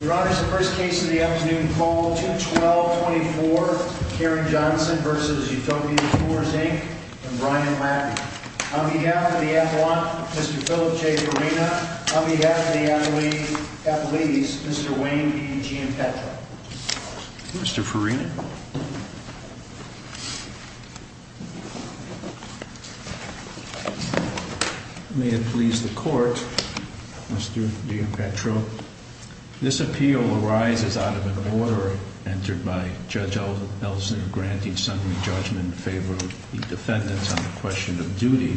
Your Honor, the first case of the afternoon called 2-12-24, Karen Johnson v. Utopia Tours, Inc. and Ryan Laffey. On behalf of the appellant, Mr. Philip J. Farina, on behalf of the athletes, Mr. Wayne E. Giampetro. Mr. Farina? May it please the Court, Mr. Giampetro. This appeal arises out of an order entered by Judge Ellison granting summary judgment in favor of the defendants on the question of duty.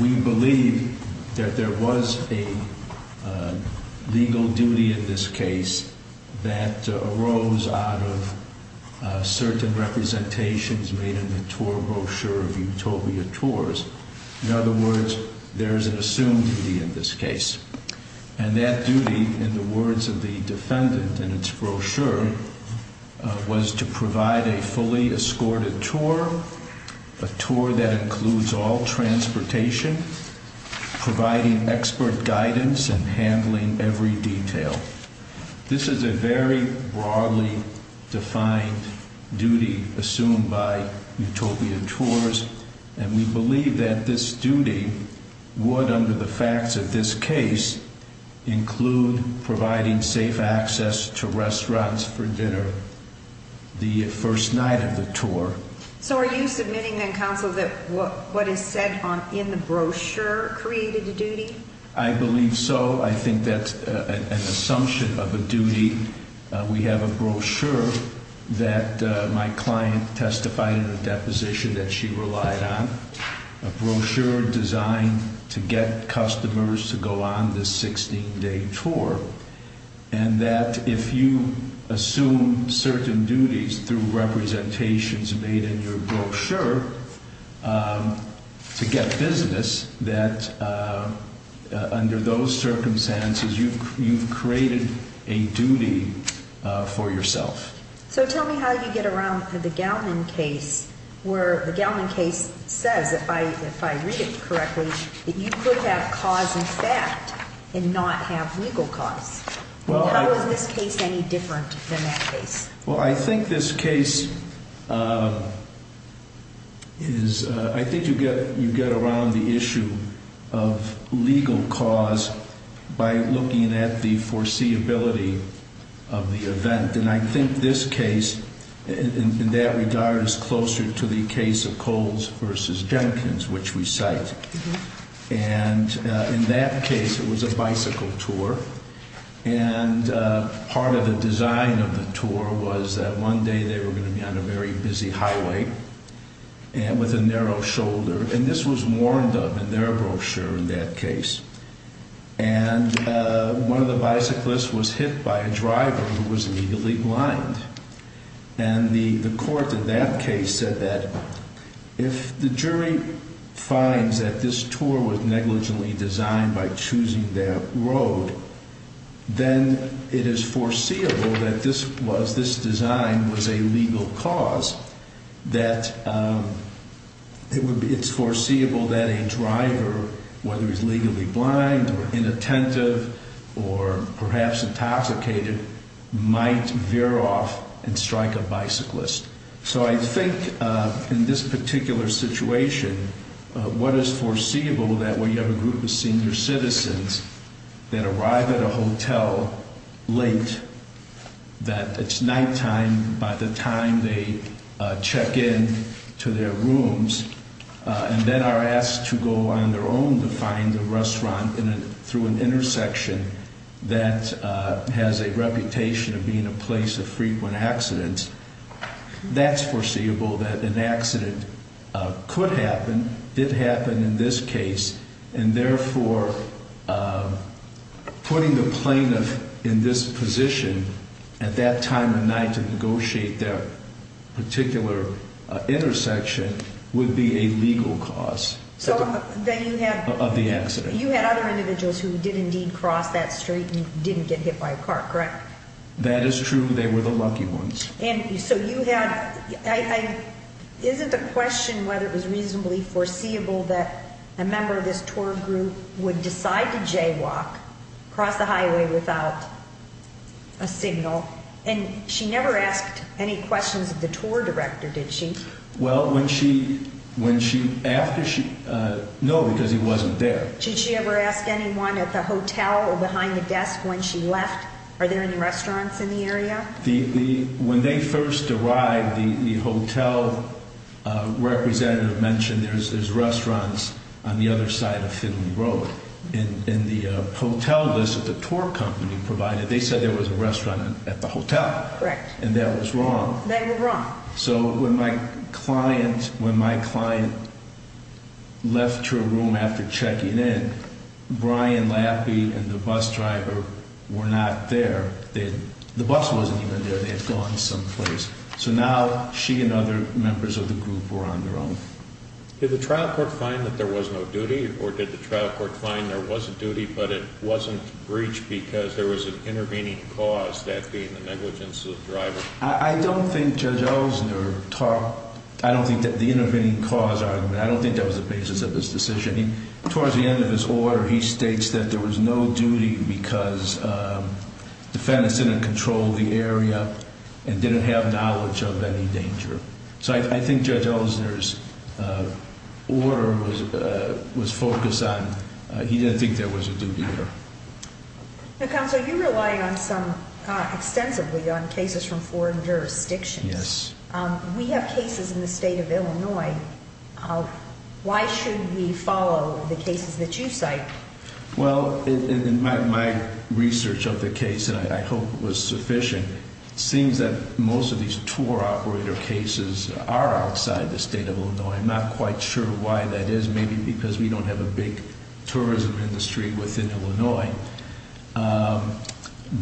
We believe that there was a legal duty in this case that arose out of certain representations made in the tour brochure of Utopia Tours. In other words, there is an assumed duty in this case. And that duty, in the words of the defendant in its brochure, was to provide a fully escorted tour, a tour that includes all transportation, providing expert guidance and handling every detail. This is a very broadly defined duty assumed by Utopia Tours. And we believe that this duty would, under the facts of this case, include providing safe access to restaurants for dinner the first night of the tour. So are you submitting then, Counsel, that what is said in the brochure created a duty? I believe so. I think that's an assumption of a duty. We have a brochure that my client testified in a deposition that she relied on, a brochure designed to get customers to go on this 16-day tour. And that if you assume certain duties through representations made in your brochure to get business, that under those circumstances you've created a duty for yourself. So tell me how you get around the Gellman case, where the Gellman case says, if I read it correctly, that you could have cause in fact and not have legal cause. How is this case any different than that case? Well, I think this case is, I think you get around the issue of legal cause by looking at the foreseeability of the event. And I think this case, in that regard, is closer to the case of Coles v. Jenkins, which we cite. And in that case it was a bicycle tour. And part of the design of the tour was that one day they were going to be on a very busy highway with a narrow shoulder. And this was warned of in their brochure in that case. And one of the bicyclists was hit by a driver who was immediately blind. And the court in that case said that if the jury finds that this tour was negligently designed by choosing their road, then it is foreseeable that this design was a legal cause. That it's foreseeable that a driver, whether he's legally blind or inattentive or perhaps intoxicated, might veer off and strike a bicyclist. So I think in this particular situation, what is foreseeable that we have a group of senior citizens that arrive at a hotel late, that it's nighttime by the time they check in to their rooms, and then are asked to go on their own to find a restaurant through an intersection that has a reputation of being a place of frequent accidents. That's foreseeable that an accident could happen, did happen in this case, and therefore putting the plaintiff in this position at that time of night to negotiate their particular intersection would be a legal cause of the accident. So you had other individuals who did indeed cross that street and didn't get hit by a car, correct? That is true. They were the lucky ones. And so you had, isn't the question whether it was reasonably foreseeable that a member of this tour group would decide to jaywalk, cross the highway without a signal? And she never asked any questions of the tour director, did she? Well, when she, when she, after she, no, because he wasn't there. Did she ever ask anyone at the hotel or behind the desk when she left, are there any restaurants in the area? When they first arrived, the hotel representative mentioned there's restaurants on the other side of Finley Road. In the hotel list that the tour company provided, they said there was a restaurant at the hotel. Correct. And that was wrong. They were wrong. So when my client, when my client left her room after checking in, Brian Laffey and the bus driver were not there. The bus wasn't even there. They had gone someplace. So now she and other members of the group were on their own. Did the trial court find that there was no duty or did the trial court find there was a duty but it wasn't breached because there was an intervening cause, that being the negligence of the driver? I don't think Judge Ellison talked, I don't think that the intervening cause argument, I don't think that was the basis of his decision. Towards the end of his order, he states that there was no duty because defendants didn't control the area and didn't have knowledge of any danger. So I think Judge Ellison's order was focused on, he didn't think there was a duty there. Counsel, you rely on some, extensively on cases from foreign jurisdictions. Yes. We have cases in the state of Illinois. Why should we follow the cases that you cite? Well, in my research of the case, and I hope it was sufficient, it seems that most of these tour operator cases are outside the state of Illinois. I'm not quite sure why that is. Maybe because we don't have a big tourism industry within Illinois.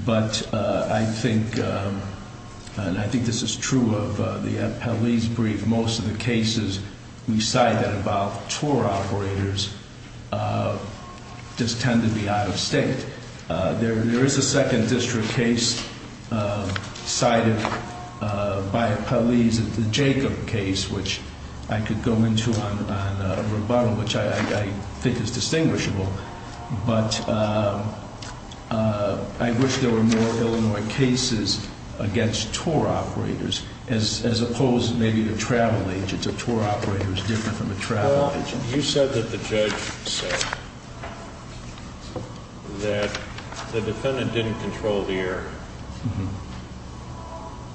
But I think, and I think this is true of the Peleze brief, most of the cases we cite that involve tour operators just tend to be out of state. There is a second district case cited by Peleze, the Jacob case, which I could go into on rebuttal, which I think is distinguishable. But I wish there were more Illinois cases against tour operators as opposed to maybe the travel agents. A tour operator is different from a travel agent. You said that the judge said that the defendant didn't control the air,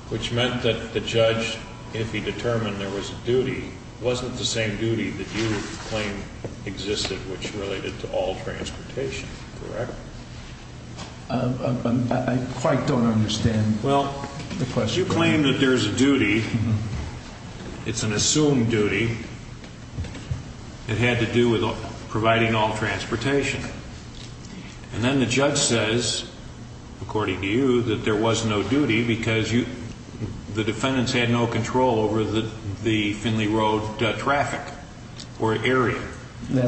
which meant that the judge, if he determined there was a duty, wasn't the same duty that you claim existed, which related to all transportation, correct? I quite don't understand the question. Because you claim that there's a duty, it's an assumed duty, that had to do with providing all transportation. And then the judge says, according to you, that there was no duty because the defendants had no control over the Findlay Road traffic or area.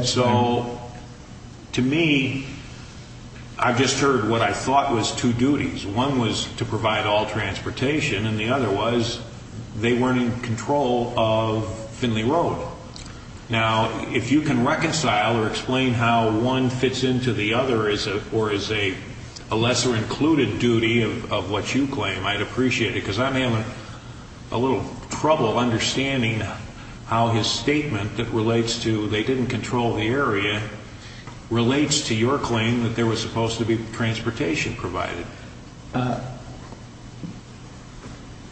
So, to me, I've just heard what I thought was two duties. One was to provide all transportation, and the other was they weren't in control of Findlay Road. Now, if you can reconcile or explain how one fits into the other or is a lesser included duty of what you claim, I'd appreciate it. Because I'm having a little trouble understanding how his statement that relates to they didn't control the area relates to your claim that there was supposed to be transportation provided.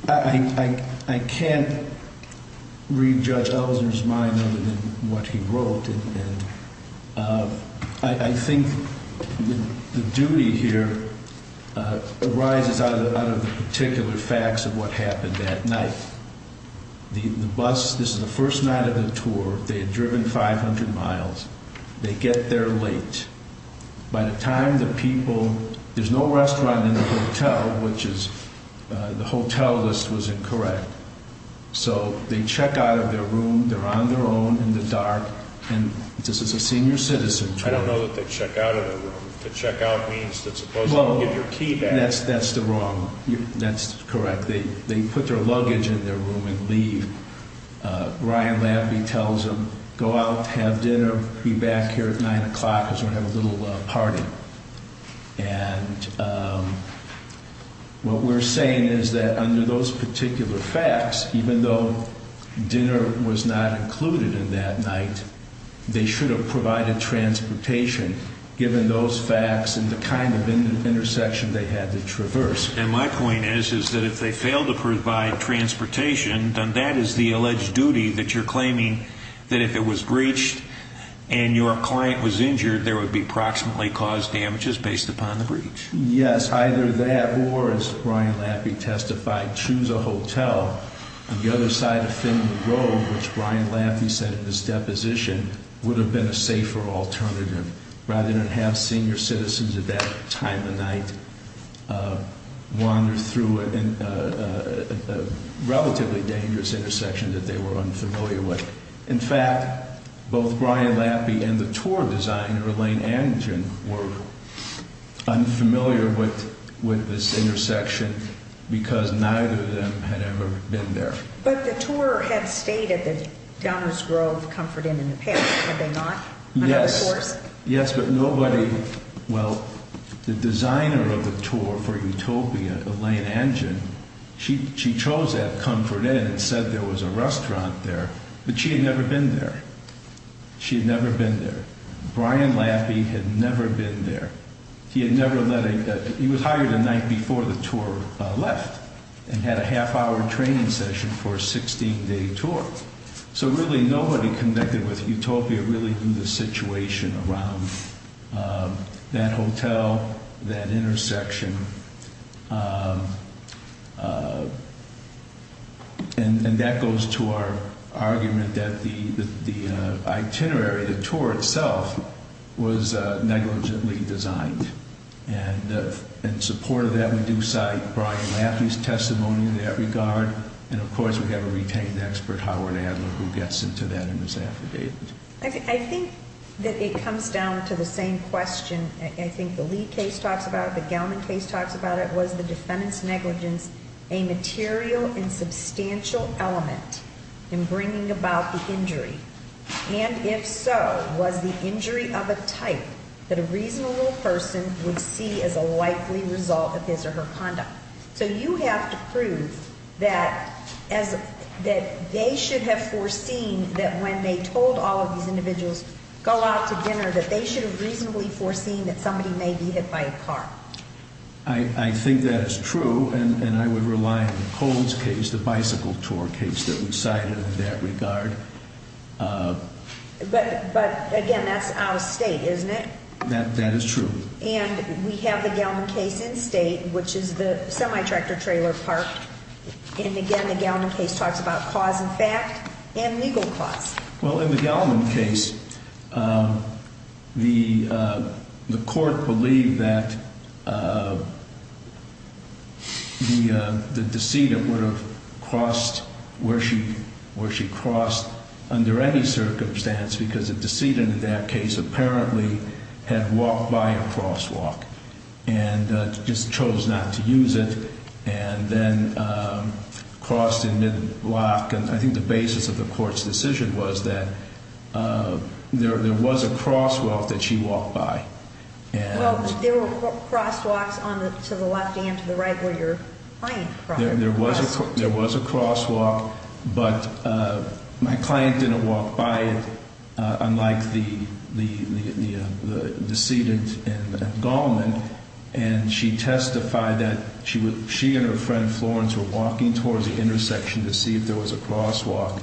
I can't read Judge Ellison's mind other than what he wrote. And I think the duty here arises out of the particular facts of what happened that night. The bus, this is the first night of the tour. They had driven 500 miles. They get there late. By the time the people, there's no restaurant in the hotel, which is, the hotel list was incorrect. So, they check out of their room. They're on their own in the dark. And this is a senior citizen tour. I don't know that they check out of their room. To check out means to supposedly give your key back. Well, that's the wrong, that's correct. They put their luggage in their room and leave. Ryan Labby tells them, go out, have dinner, be back here at 9 o'clock because we're going to have a little party. And what we're saying is that under those particular facts, even though dinner was not included in that night, they should have provided transportation, given those facts and the kind of intersection they had to traverse. And my point is, is that if they fail to provide transportation, then that is the alleged duty that you're claiming that if it was breached and your client was injured, there would be approximately caused damages based upon the breach. Yes, either that or, as Ryan Labby testified, choose a hotel on the other side of Finley Road, which Ryan Labby said in his deposition, would have been a safer alternative. Rather than have senior citizens at that time of night wander through a relatively dangerous intersection that they were unfamiliar with. In fact, both Ryan Labby and the tour designer, Elaine Anderton, were unfamiliar with this intersection because neither of them had ever been there. But the tour had stated that Downers Grove, Comfort Inn, and the Pit, had they not? Yes, but nobody, well, the designer of the tour for Utopia, Elaine Anderton, she chose that Comfort Inn and said there was a restaurant there, but she had never been there. She had never been there. Ryan Labby had never been there. He was hired the night before the tour left and had a half-hour training session for a 16-day tour. So really, nobody connected with Utopia really knew the situation around that hotel, that intersection. And that goes to our argument that the itinerary, the tour itself, was negligently designed. And in support of that, we do cite Brian Labby's testimony in that regard. And of course, we have a retained expert, Howard Adler, who gets into that and is affidavit. I think that it comes down to the same question. I think the Lee case talks about it, the Gellman case talks about it. Was the defendant's negligence a material and substantial element in bringing about the injury? And if so, was the injury of a type that a reasonable person would see as a likely result of his or her conduct? So you have to prove that they should have foreseen that when they told all of these individuals, go out to dinner, that they should have reasonably foreseen that somebody may be hit by a car. I think that is true, and I would rely on the Coles case, the bicycle tour case that we cited in that regard. But again, that's out of state, isn't it? That is true. And we have the Gellman case in state, which is the semi-tractor trailer park. And again, the Gellman case talks about cause and fact and legal cause. Well, in the Gellman case, the court believed that the decedent would have crossed where she crossed under any circumstance because the decedent in that case apparently had walked by a crosswalk and just chose not to use it and then crossed in mid-block. And I think the basis of the court's decision was that there was a crosswalk that she walked by. Well, but there were crosswalks to the left and to the right where your client crossed. There was a crosswalk, but my client didn't walk by it, unlike the decedent in Gellman. And she testified that she and her friend Florence were walking towards the intersection to see if there was a crosswalk.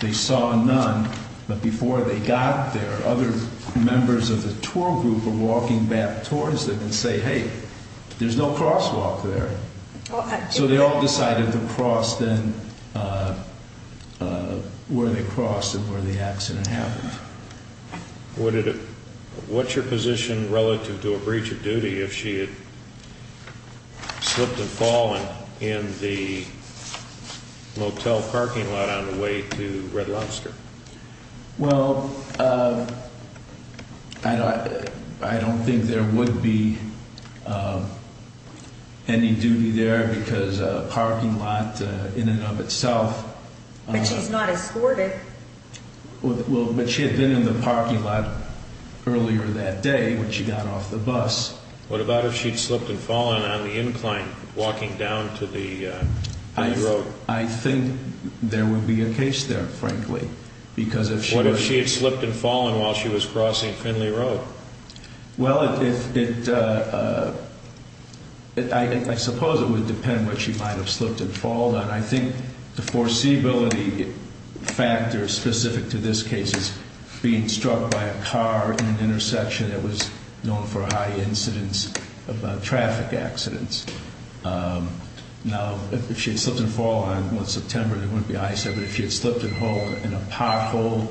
They saw none, but before they got there, other members of the tour group were walking back towards it and say, hey, there's no crosswalk there. So they all decided to cross then where they crossed and where the accident happened. What's your position relative to a breach of duty if she had slipped and fallen in the motel parking lot on the way to Red Lobster? Well, I don't think there would be any duty there because a parking lot in and of itself... But she's not escorted. Well, but she had been in the parking lot earlier that day when she got off the bus. What about if she had slipped and fallen on the incline walking down to the road? I think there would be a case there, frankly, because if she were... What if she had slipped and fallen while she was crossing Finley Road? Well, I suppose it would depend what she might have slipped and fallen. I think the foreseeability factor specific to this case is being struck by a car in an intersection that was known for high incidence of traffic accidents. Now, if she had slipped and fallen on September, there wouldn't be an incident. But if she had slipped and fallen in a pothole,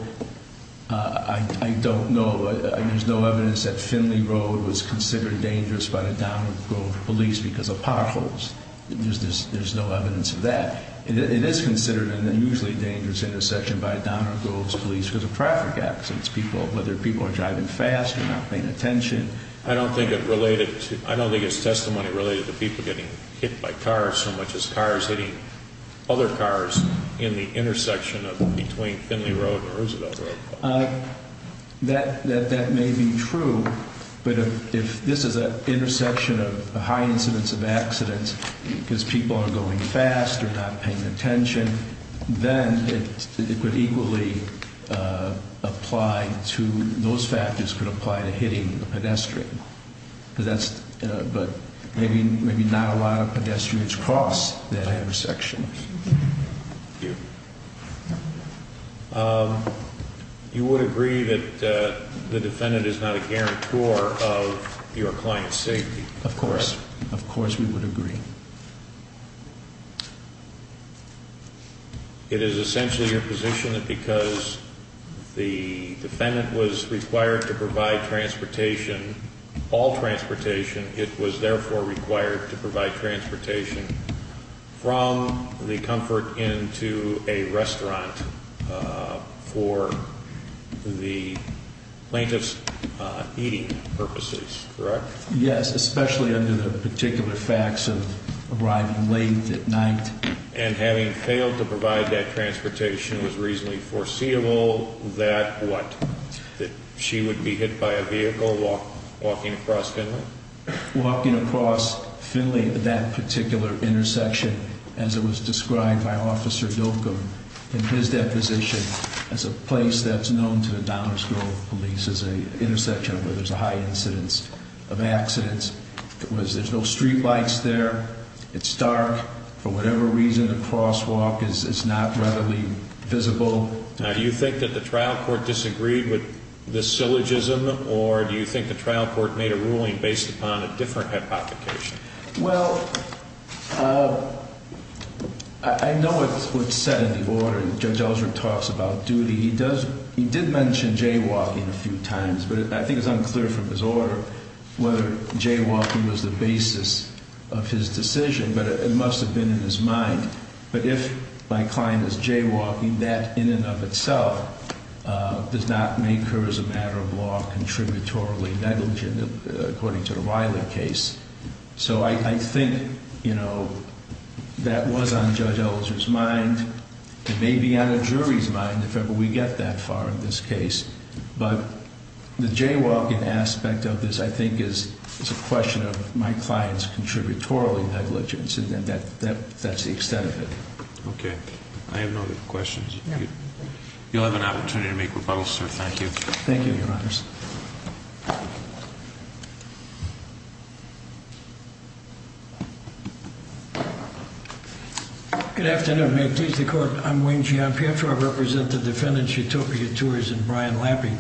I don't know. There's no evidence that Finley Road was considered dangerous by the Downing Grove police because of potholes. There's no evidence of that. It is considered an unusually dangerous intersection by Downing Grove's police because of traffic accidents, whether people are driving fast or not paying attention. I don't think it's testimony related to people getting hit by cars so much as cars hitting other cars in the intersection between Finley Road and Roosevelt Road. That may be true, but if this is an intersection of high incidence of accidents because people are going fast or not paying attention, then it would equally apply to... Those factors could apply to hitting a pedestrian. But maybe not a lot of pedestrians cross that intersection. You would agree that the defendant is not a guarantor of your client's safety, correct? Of course. Of course we would agree. It is essentially your position that because the defendant was required to provide transportation, all transportation, it was therefore required to provide transportation from the Comfort Inn to a restaurant for the plaintiff's eating purposes, correct? Yes, especially under the particular facts of arriving late at night. And having failed to provide that transportation, it was reasonably foreseeable that what? That she would be hit by a vehicle walking across Finley? Walking across Finley, that particular intersection, as it was described by Officer Dokum in his deposition, as a place that's known to the Downing Grove Police as an intersection where there's a high incidence of accidents. There's no street lights there. It's dark. For whatever reason, the crosswalk is not readily visible. Now, do you think that the trial court disagreed with this syllogism, or do you think the trial court made a ruling based upon a different hypothecation? Well, I know what's said in the order. Judge Ellsworth talks about duty. He did mention jaywalking a few times, but I think it's unclear from his order whether jaywalking was the basis of his decision. But it must have been in his mind. But if my client is jaywalking, that in and of itself does not make her, as a matter of law, contributorily negligent, according to the Riley case. So I think, you know, that was on Judge Ellsworth's mind. It may be on a jury's mind, if ever we get that far in this case. But the jaywalking aspect of this, I think, is a question of my client's contributorily negligence. And that's the extent of it. Okay. I have no other questions. You'll have an opportunity to make rebuttals, sir. Thank you. Thank you, Your Honors. Good afternoon. May it please the Court. I'm Wayne Gianpietro. I represent the defendants, Utopia Tours and Brian Lappy.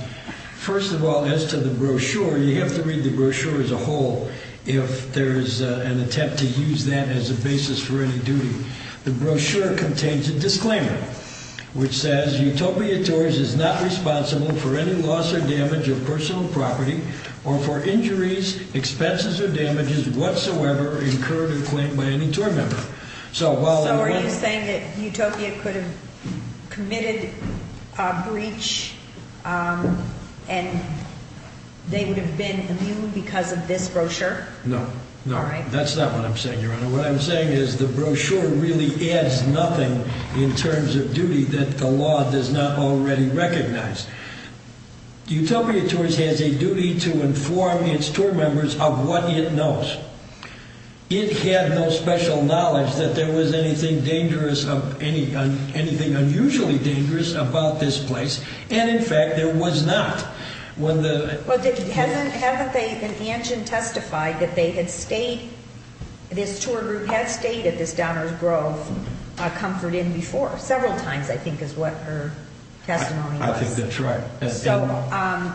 First of all, as to the brochure, you have to read the brochure as a whole if there is an attempt to use that as a basis for any duty. The brochure contains a disclaimer, which says, Utopia Tours is not responsible for any loss or damage of personal property or for injuries, expenses or damages whatsoever incurred or claimed by any tour member. So are you saying that Utopia could have committed a breach and they would have been immune because of this brochure? No. No. All right. What I'm saying is the brochure really adds nothing in terms of duty that the law does not already recognize. Utopia Tours has a duty to inform its tour members of what it knows. It had no special knowledge that there was anything dangerous, anything unusually dangerous about this place. And, in fact, there was not. Well, haven't they, and Angin testified, that they had stayed, this tour group had stayed at this Downers Grove Comfort Inn before, several times I think is what her testimony was. I think that's right. So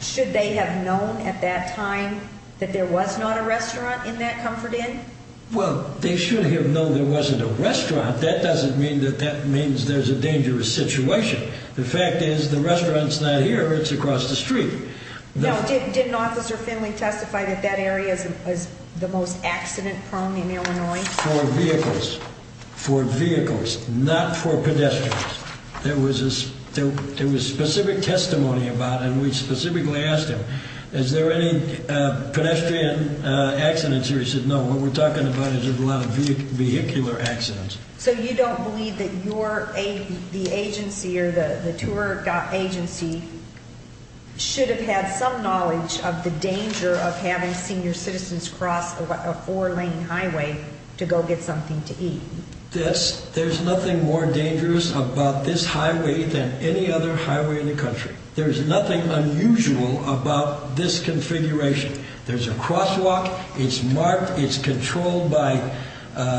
should they have known at that time that there was not a restaurant in that Comfort Inn? Well, they should have known there wasn't a restaurant. That doesn't mean that that means there's a dangerous situation. The fact is the restaurant's not here. It's across the street. Now, didn't Officer Finley testify that that area is the most accident prone in Illinois? For vehicles. For vehicles, not for pedestrians. There was specific testimony about it, and we specifically asked him, is there any pedestrian accidents here? He said, no, what we're talking about is a lot of vehicular accidents. So you don't believe that the agency or the tour agency should have had some knowledge of the danger of having senior citizens cross a four-lane highway to go get something to eat? Yes. There's nothing more dangerous about this highway than any other highway in the country. There's nothing unusual about this configuration. There's a crosswalk. It's marked. It's controlled by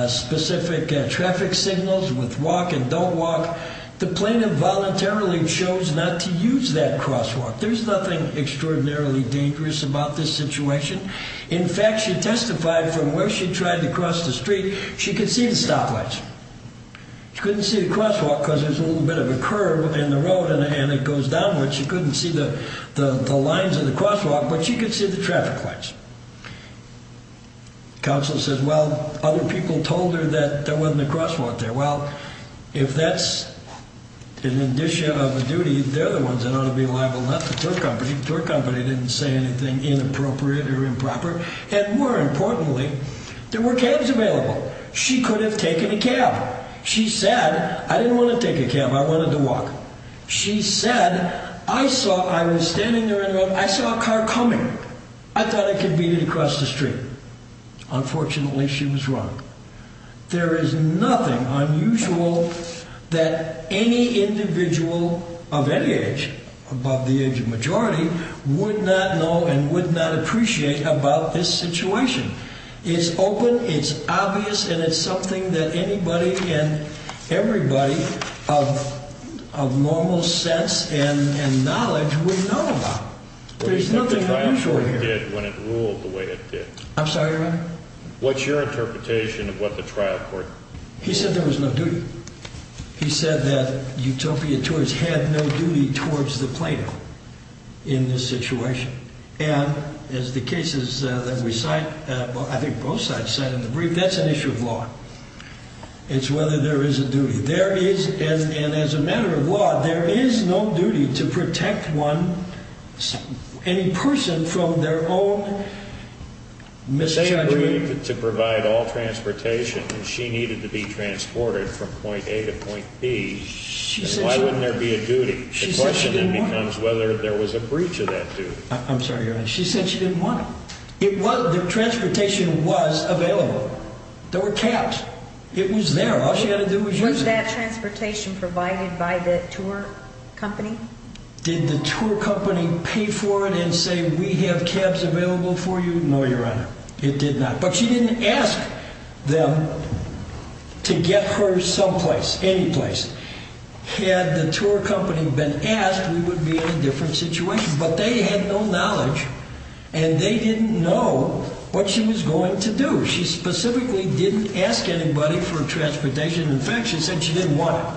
specific traffic signals with walk and don't walk. The plaintiff voluntarily chose not to use that crosswalk. There's nothing extraordinarily dangerous about this situation. In fact, she testified from where she tried to cross the street, she could see the stoplights. She couldn't see the crosswalk because there's a little bit of a curve in the road and it goes downward. She couldn't see the lines of the crosswalk, but she could see the traffic lights. Counsel said, well, other people told her that there wasn't a crosswalk there. Well, if that's an addition of a duty, they're the ones that ought to be liable, not the tour company. The tour company didn't say anything inappropriate or improper. And more importantly, there were cabs available. She could have taken a cab. She said, I didn't want to take a cab. I wanted to walk. She said, I saw, I was standing there in the road, I saw a car coming. I thought I could beat it across the street. Unfortunately, she was wrong. There is nothing unusual that any individual of any age, above the age of majority, would not know and would not appreciate about this situation. It's open, it's obvious, and it's something that anybody and everybody of normal sense and knowledge would know about. There's nothing unusual here. What the trial court did when it ruled the way it did. I'm sorry, Your Honor? What's your interpretation of what the trial court did? He said there was no duty. He said that Utopia Tours had no duty towards the plaintiff in this situation. And as the cases that we cite, I think both sides cite in the brief, that's an issue of law. It's whether there is a duty. There is, and as a matter of law, there is no duty to protect one, any person from their own misjudgment. They agreed to provide all transportation, and she needed to be transported from point A to point B. Why wouldn't there be a duty? The question then becomes whether there was a breach of that duty. I'm sorry, Your Honor. She said she didn't want it. The transportation was available. There were cabs. It was there. All she had to do was use it. Was that transportation provided by the tour company? Did the tour company pay for it and say, we have cabs available for you? No, Your Honor. It did not. But she didn't ask them to get her someplace, anyplace. Had the tour company been asked, we would be in a different situation. But they had no knowledge, and they didn't know what she was going to do. She specifically didn't ask anybody for transportation. In fact, she said she didn't want it.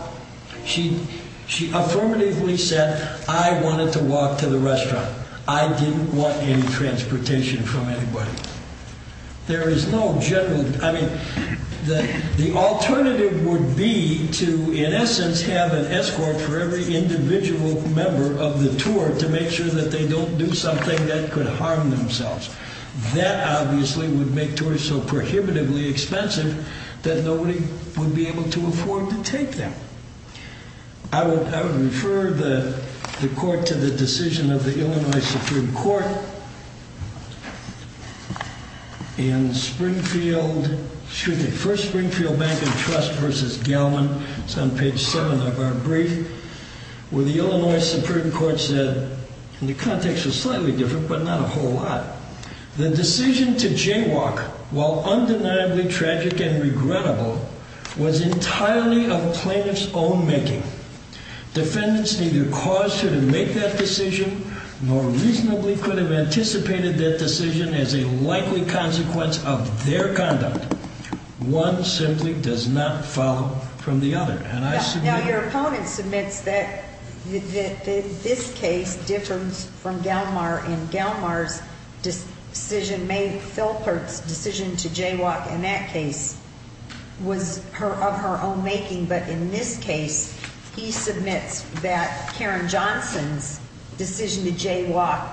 She affirmatively said, I wanted to walk to the restaurant. I didn't want any transportation from anybody. There is no general, I mean, the alternative would be to, in essence, have an escort for every individual member of the tour to make sure that they don't do something that could harm themselves. That, obviously, would make tours so prohibitively expensive that nobody would be able to afford to take them. I would refer the court to the decision of the Illinois Supreme Court in Springfield, excuse me, first Springfield Bank of Trust v. Gellman. It's on page 7 of our brief, where the Illinois Supreme Court said, and the context was slightly different, but not a whole lot. The decision to jaywalk, while undeniably tragic and regrettable, was entirely a plaintiff's own making. Defendants neither caused her to make that decision nor reasonably could have anticipated that decision as a likely consequence of their conduct. One simply does not follow from the other. Now, your opponent submits that this case differs from Gellman, and Gellman's decision made, Felpert's decision to jaywalk in that case, was of her own making. But in this case, he submits that Karen Johnson's decision to jaywalk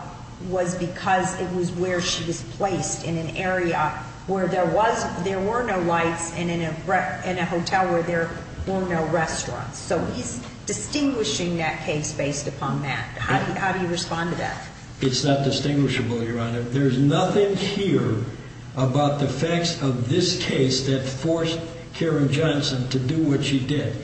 was because it was where she was placed, in an area where there were no lights and in a hotel where there were no restaurants. So he's distinguishing that case based upon that. How do you respond to that? It's not distinguishable, Your Honor. There's nothing here about the facts of this case that forced Karen Johnson to do what she did.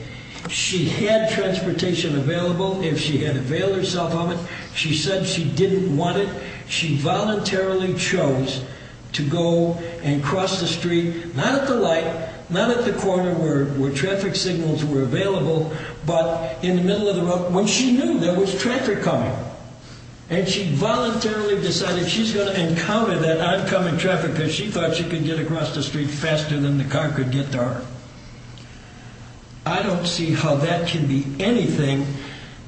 She had transportation available. If she had availed herself of it, she said she didn't want it. She voluntarily chose to go and cross the street, not at the light, not at the corner where traffic signals were available, but in the middle of the road when she knew there was traffic coming. And she voluntarily decided she's going to encounter that oncoming traffic because she thought she could get across the street faster than the car could get to her. I don't see how that can be anything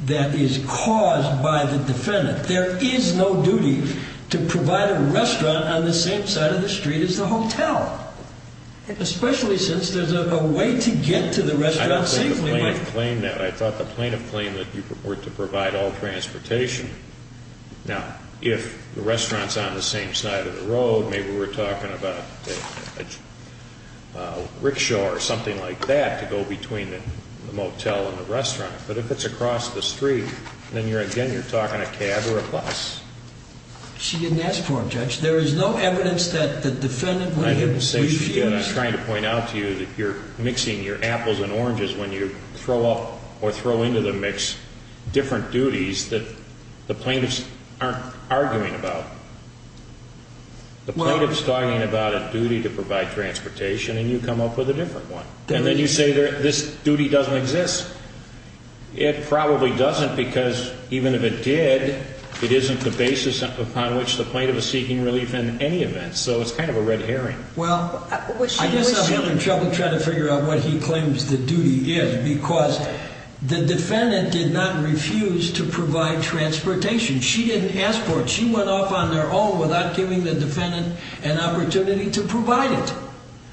that is caused by the defendant. There is no duty to provide a restaurant on the same side of the street as the hotel, especially since there's a way to get to the restaurant safely. I don't think the plaintiff claimed that. I thought the plaintiff claimed that you were to provide all transportation. Now, if the restaurant's on the same side of the road, maybe we're talking about a rickshaw or something like that to go between the motel and the restaurant. But if it's across the street, then again you're talking a cab or a bus. She didn't ask for it, Judge. There is no evidence that the defendant would have refused. I didn't say she didn't. I'm trying to point out to you that you're mixing your apples and oranges when you throw into the mix different duties that the plaintiffs aren't arguing about. The plaintiff's talking about a duty to provide transportation, and you come up with a different one. And then you say this duty doesn't exist. It probably doesn't because even if it did, it isn't the basis upon which the plaintiff is seeking relief in any event. So it's kind of a red herring. Well, I guess I'm having trouble trying to figure out what he claims the duty is because the defendant did not refuse to provide transportation. She didn't ask for it. She went off on her own without giving the defendant an opportunity to provide it.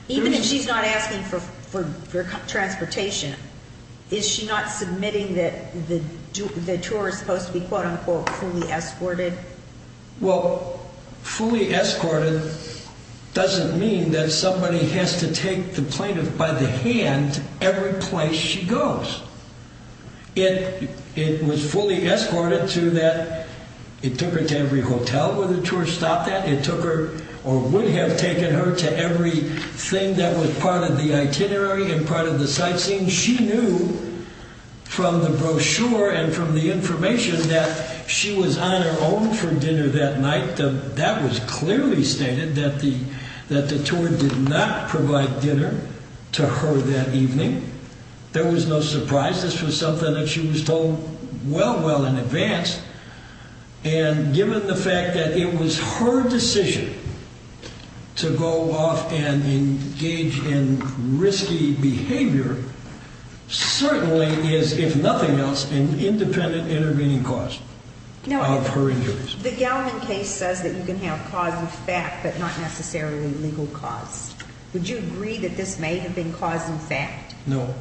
Even if she's not asking for transportation, is she not submitting that the tour is supposed to be, quote-unquote, fully escorted? Well, fully escorted doesn't mean that somebody has to take the plaintiff by the hand every place she goes. It was fully escorted to that it took her to every hotel where the tour stopped at. It took her or would have taken her to everything that was part of the itinerary and part of the sightseeing. She knew from the brochure and from the information that she was on her own for dinner that night. That was clearly stated that the tour did not provide dinner to her that evening. There was no surprise. This was something that she was told well, well in advance. And given the fact that it was her decision to go off and engage in risky behavior, certainly is, if nothing else, an independent intervening cause of her injuries. The Gallman case says that you can have cause in fact but not necessarily legal cause. Would you agree that this may have been cause in fact? No,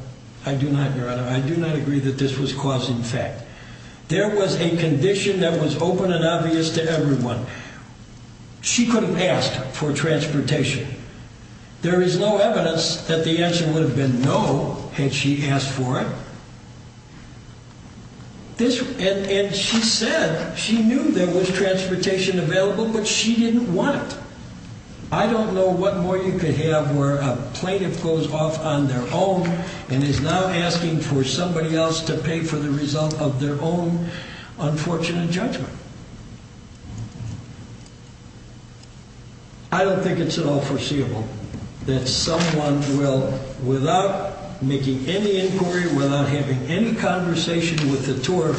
I do not, Your Honor. I do not agree that this was cause in fact. There was a condition that was open and obvious to everyone. She could have asked for transportation. There is no evidence that the answer would have been no had she asked for it. And she said she knew there was transportation available but she didn't want it. I don't know what more you could have where a plaintiff goes off on their own and is now asking for somebody else to pay for the result of their own unfortunate judgment. I don't think it's at all foreseeable that someone will, without making any inquiry, without having any conversation with the tour,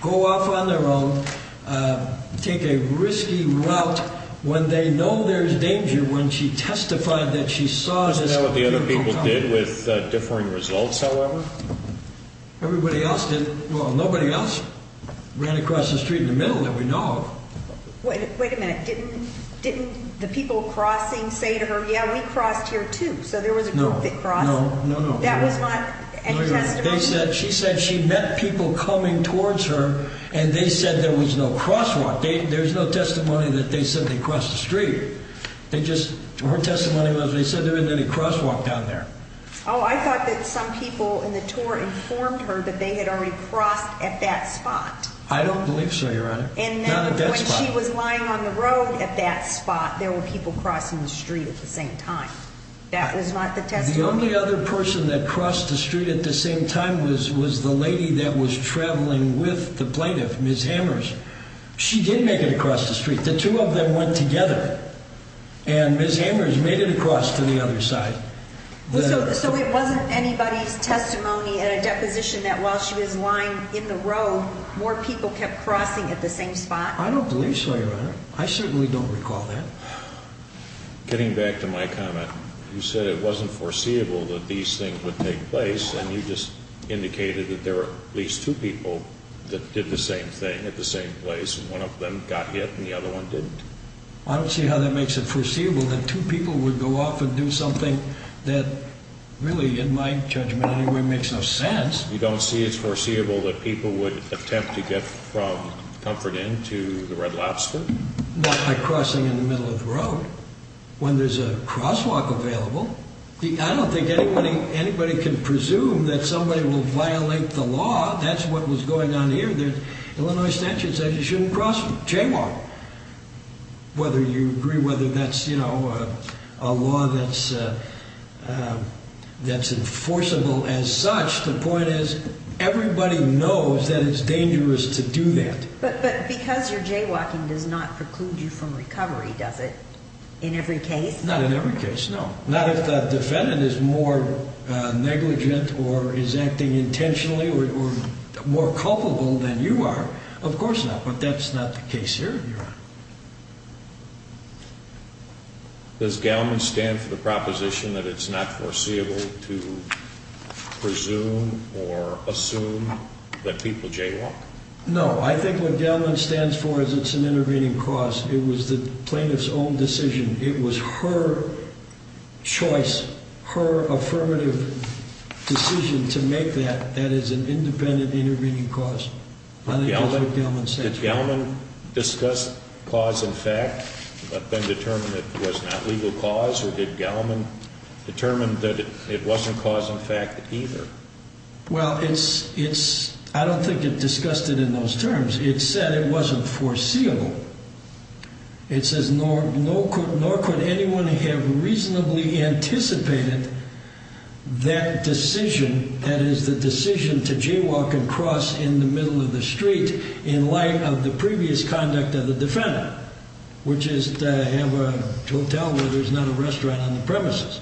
go off on their own, take a risky route when they know there's danger when she testified that she saw this. Do you know what the other people did with differing results, however? Everybody else did. Well, nobody else ran across the street in the middle that we know of. Wait a minute. Didn't the people crossing say to her, yeah, we crossed here too? So there was a group that crossed. No, no, no. That was not any testimony? She said she met people coming towards her and they said there was no crosswalk. There's no testimony that they said they crossed the street. Her testimony was they said there wasn't any crosswalk down there. Oh, I thought that some people in the tour informed her that they had already crossed at that spot. I don't believe so, Your Honor. And when she was lying on the road at that spot, there were people crossing the street at the same time. That was not the testimony? The only other person that crossed the street at the same time was the lady that was traveling with the plaintiff, Ms. Hammers. She did make it across the street. The two of them went together, and Ms. Hammers made it across to the other side. So it wasn't anybody's testimony in a deposition that while she was lying in the road, more people kept crossing at the same spot? I don't believe so, Your Honor. I certainly don't recall that. Getting back to my comment, you said it wasn't foreseeable that these things would take place, and you just indicated that there were at least two people that did the same thing at the same place, and one of them got hit and the other one didn't. I don't see how that makes it foreseeable that two people would go off and do something that really, in my judgment anyway, makes no sense. You don't see it's foreseeable that people would attempt to get from Comfort Inn to the Red Lobster? Not by crossing in the middle of the road. When there's a crosswalk available, I don't think anybody can presume that somebody will violate the law. That's what was going on here. The Illinois statute says you shouldn't cross, jaywalk, whether you agree whether that's a law that's enforceable as such. The point is everybody knows that it's dangerous to do that. But because you're jaywalking does not preclude you from recovery, does it, in every case? Not in every case, no. Not if that defendant is more negligent or is acting intentionally or more culpable than you are. Of course not, but that's not the case here, Your Honor. Does Gallman stand for the proposition that it's not foreseeable to presume or assume that people jaywalk? No. I think what Gallman stands for is it's an intervening cause. It was the plaintiff's own decision. It was her choice, her affirmative decision to make that that is an independent intervening cause. I think that's what Gallman stands for. Did Gallman discuss cause and fact but then determine it was not legal cause? Or did Gallman determine that it wasn't cause and fact either? Well, I don't think it discussed it in those terms. It said it wasn't foreseeable. It says nor could anyone have reasonably anticipated that decision, that is the decision to jaywalk and cross in the middle of the street in light of the previous conduct of the defendant, which is to have a hotel where there's not a restaurant on the premises.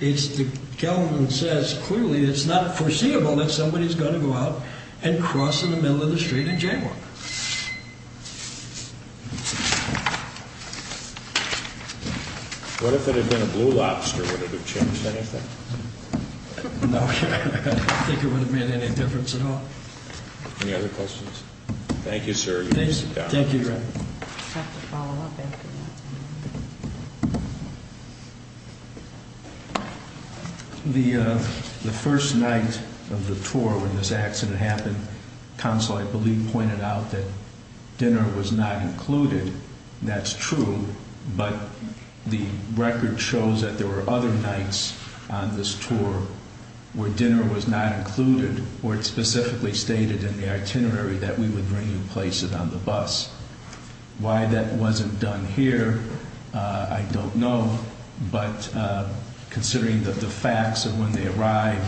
Gallman says clearly it's not foreseeable that somebody's going to go out and cross in the middle of the street and jaywalk. What if it had been a blue lobster? Would it have changed anything? No. I don't think it would have made any difference at all. Any other questions? Thank you, sir. You may sit down. Thank you, Your Honor. I just have to follow up after that. The first night of the tour when this accident happened, counsel, I believe, pointed out that dinner was not included. That's true, but the record shows that there were other nights on this tour where dinner was not included or it specifically stated in the itinerary that we would bring and place it on the bus. Why that wasn't done here, I don't know, but considering the facts of when they arrived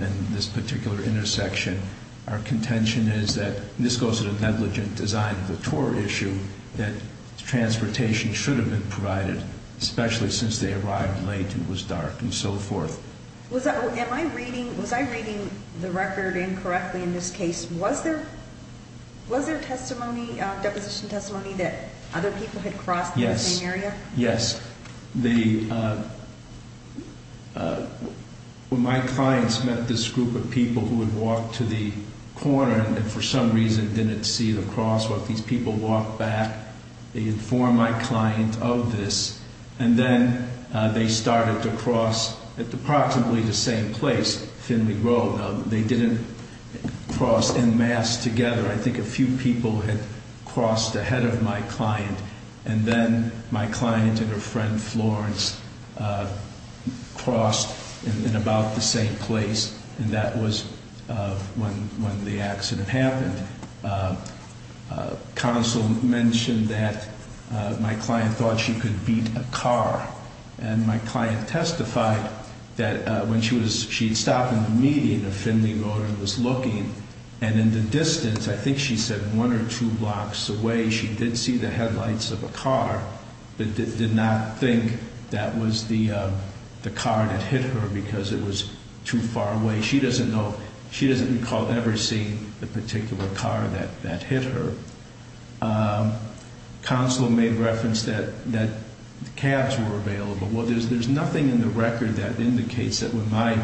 and this particular intersection, our contention is that this goes to the negligent design of the tour issue, that transportation should have been provided, especially since they arrived late and it was dark and so forth. Was I reading the record incorrectly in this case? Was there deposition testimony that other people had crossed the same area? Yes. When my clients met this group of people who had walked to the corner and for some reason didn't see the crosswalk, these people walked back. They informed my client of this and then they started to cross at approximately the same place, Finley Road. They didn't cross en masse together. I think a few people had crossed ahead of my client and then my client and her friend Florence crossed in about the same place and that was when the accident happened. Counsel mentioned that my client thought she could beat a car and my client testified that when she had stopped in the median of Finley Road and was looking and in the distance, I think she said one or two blocks away, she did see the headlights of a car but did not think that was the car that hit her because it was too far away. She doesn't recall ever seeing the particular car that hit her. Counsel made reference that the cabs were available. Well, there's nothing in the record that indicates that when my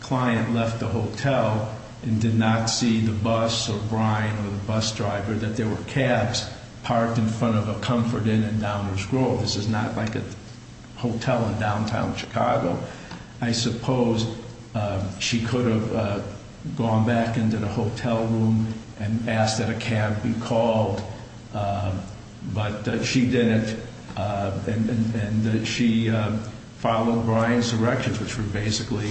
client left the hotel and did not see the bus or Brian or the bus driver, that there were cabs parked in front of a Comfort Inn in Downers Grove. This is not like a hotel in downtown Chicago. I suppose she could have gone back into the hotel room and asked that a cab be called, but she didn't and she followed Brian's direction, which was basically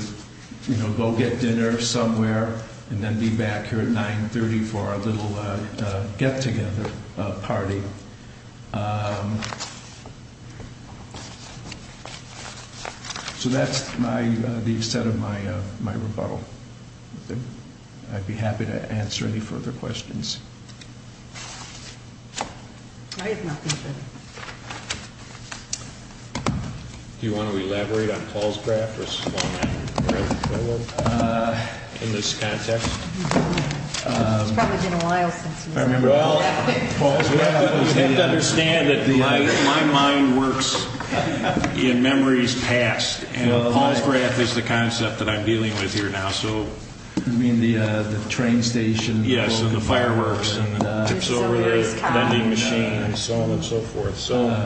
go get dinner somewhere and then be back here at 930 for a little get-together party. So that's the extent of my rebuttal. I'd be happy to answer any further questions. I have nothing further. Do you want to elaborate on Paul's graft or small-mounted graft failure in this context? It's probably been a while since you've heard that. Well, you have to understand that my mind works in memories past, and Paul's graft is the concept that I'm dealing with here now. You mean the train station? Yes, and the fireworks and tips over the vending machine and so on and so forth.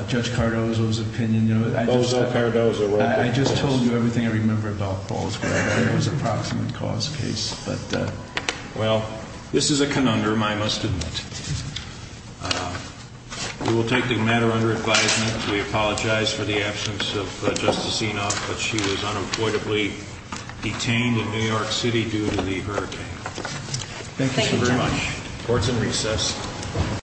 Judge Cardozo's opinion. I just told you everything I remember about Paul's graft. It was an approximate cause case. Well, this is a conundrum, I must admit. We will take the matter under advisement. We apologize for the absence of Justice Enoff, but she was unavoidably detained in New York City due to the hurricane. Thank you very much. Court is in recess.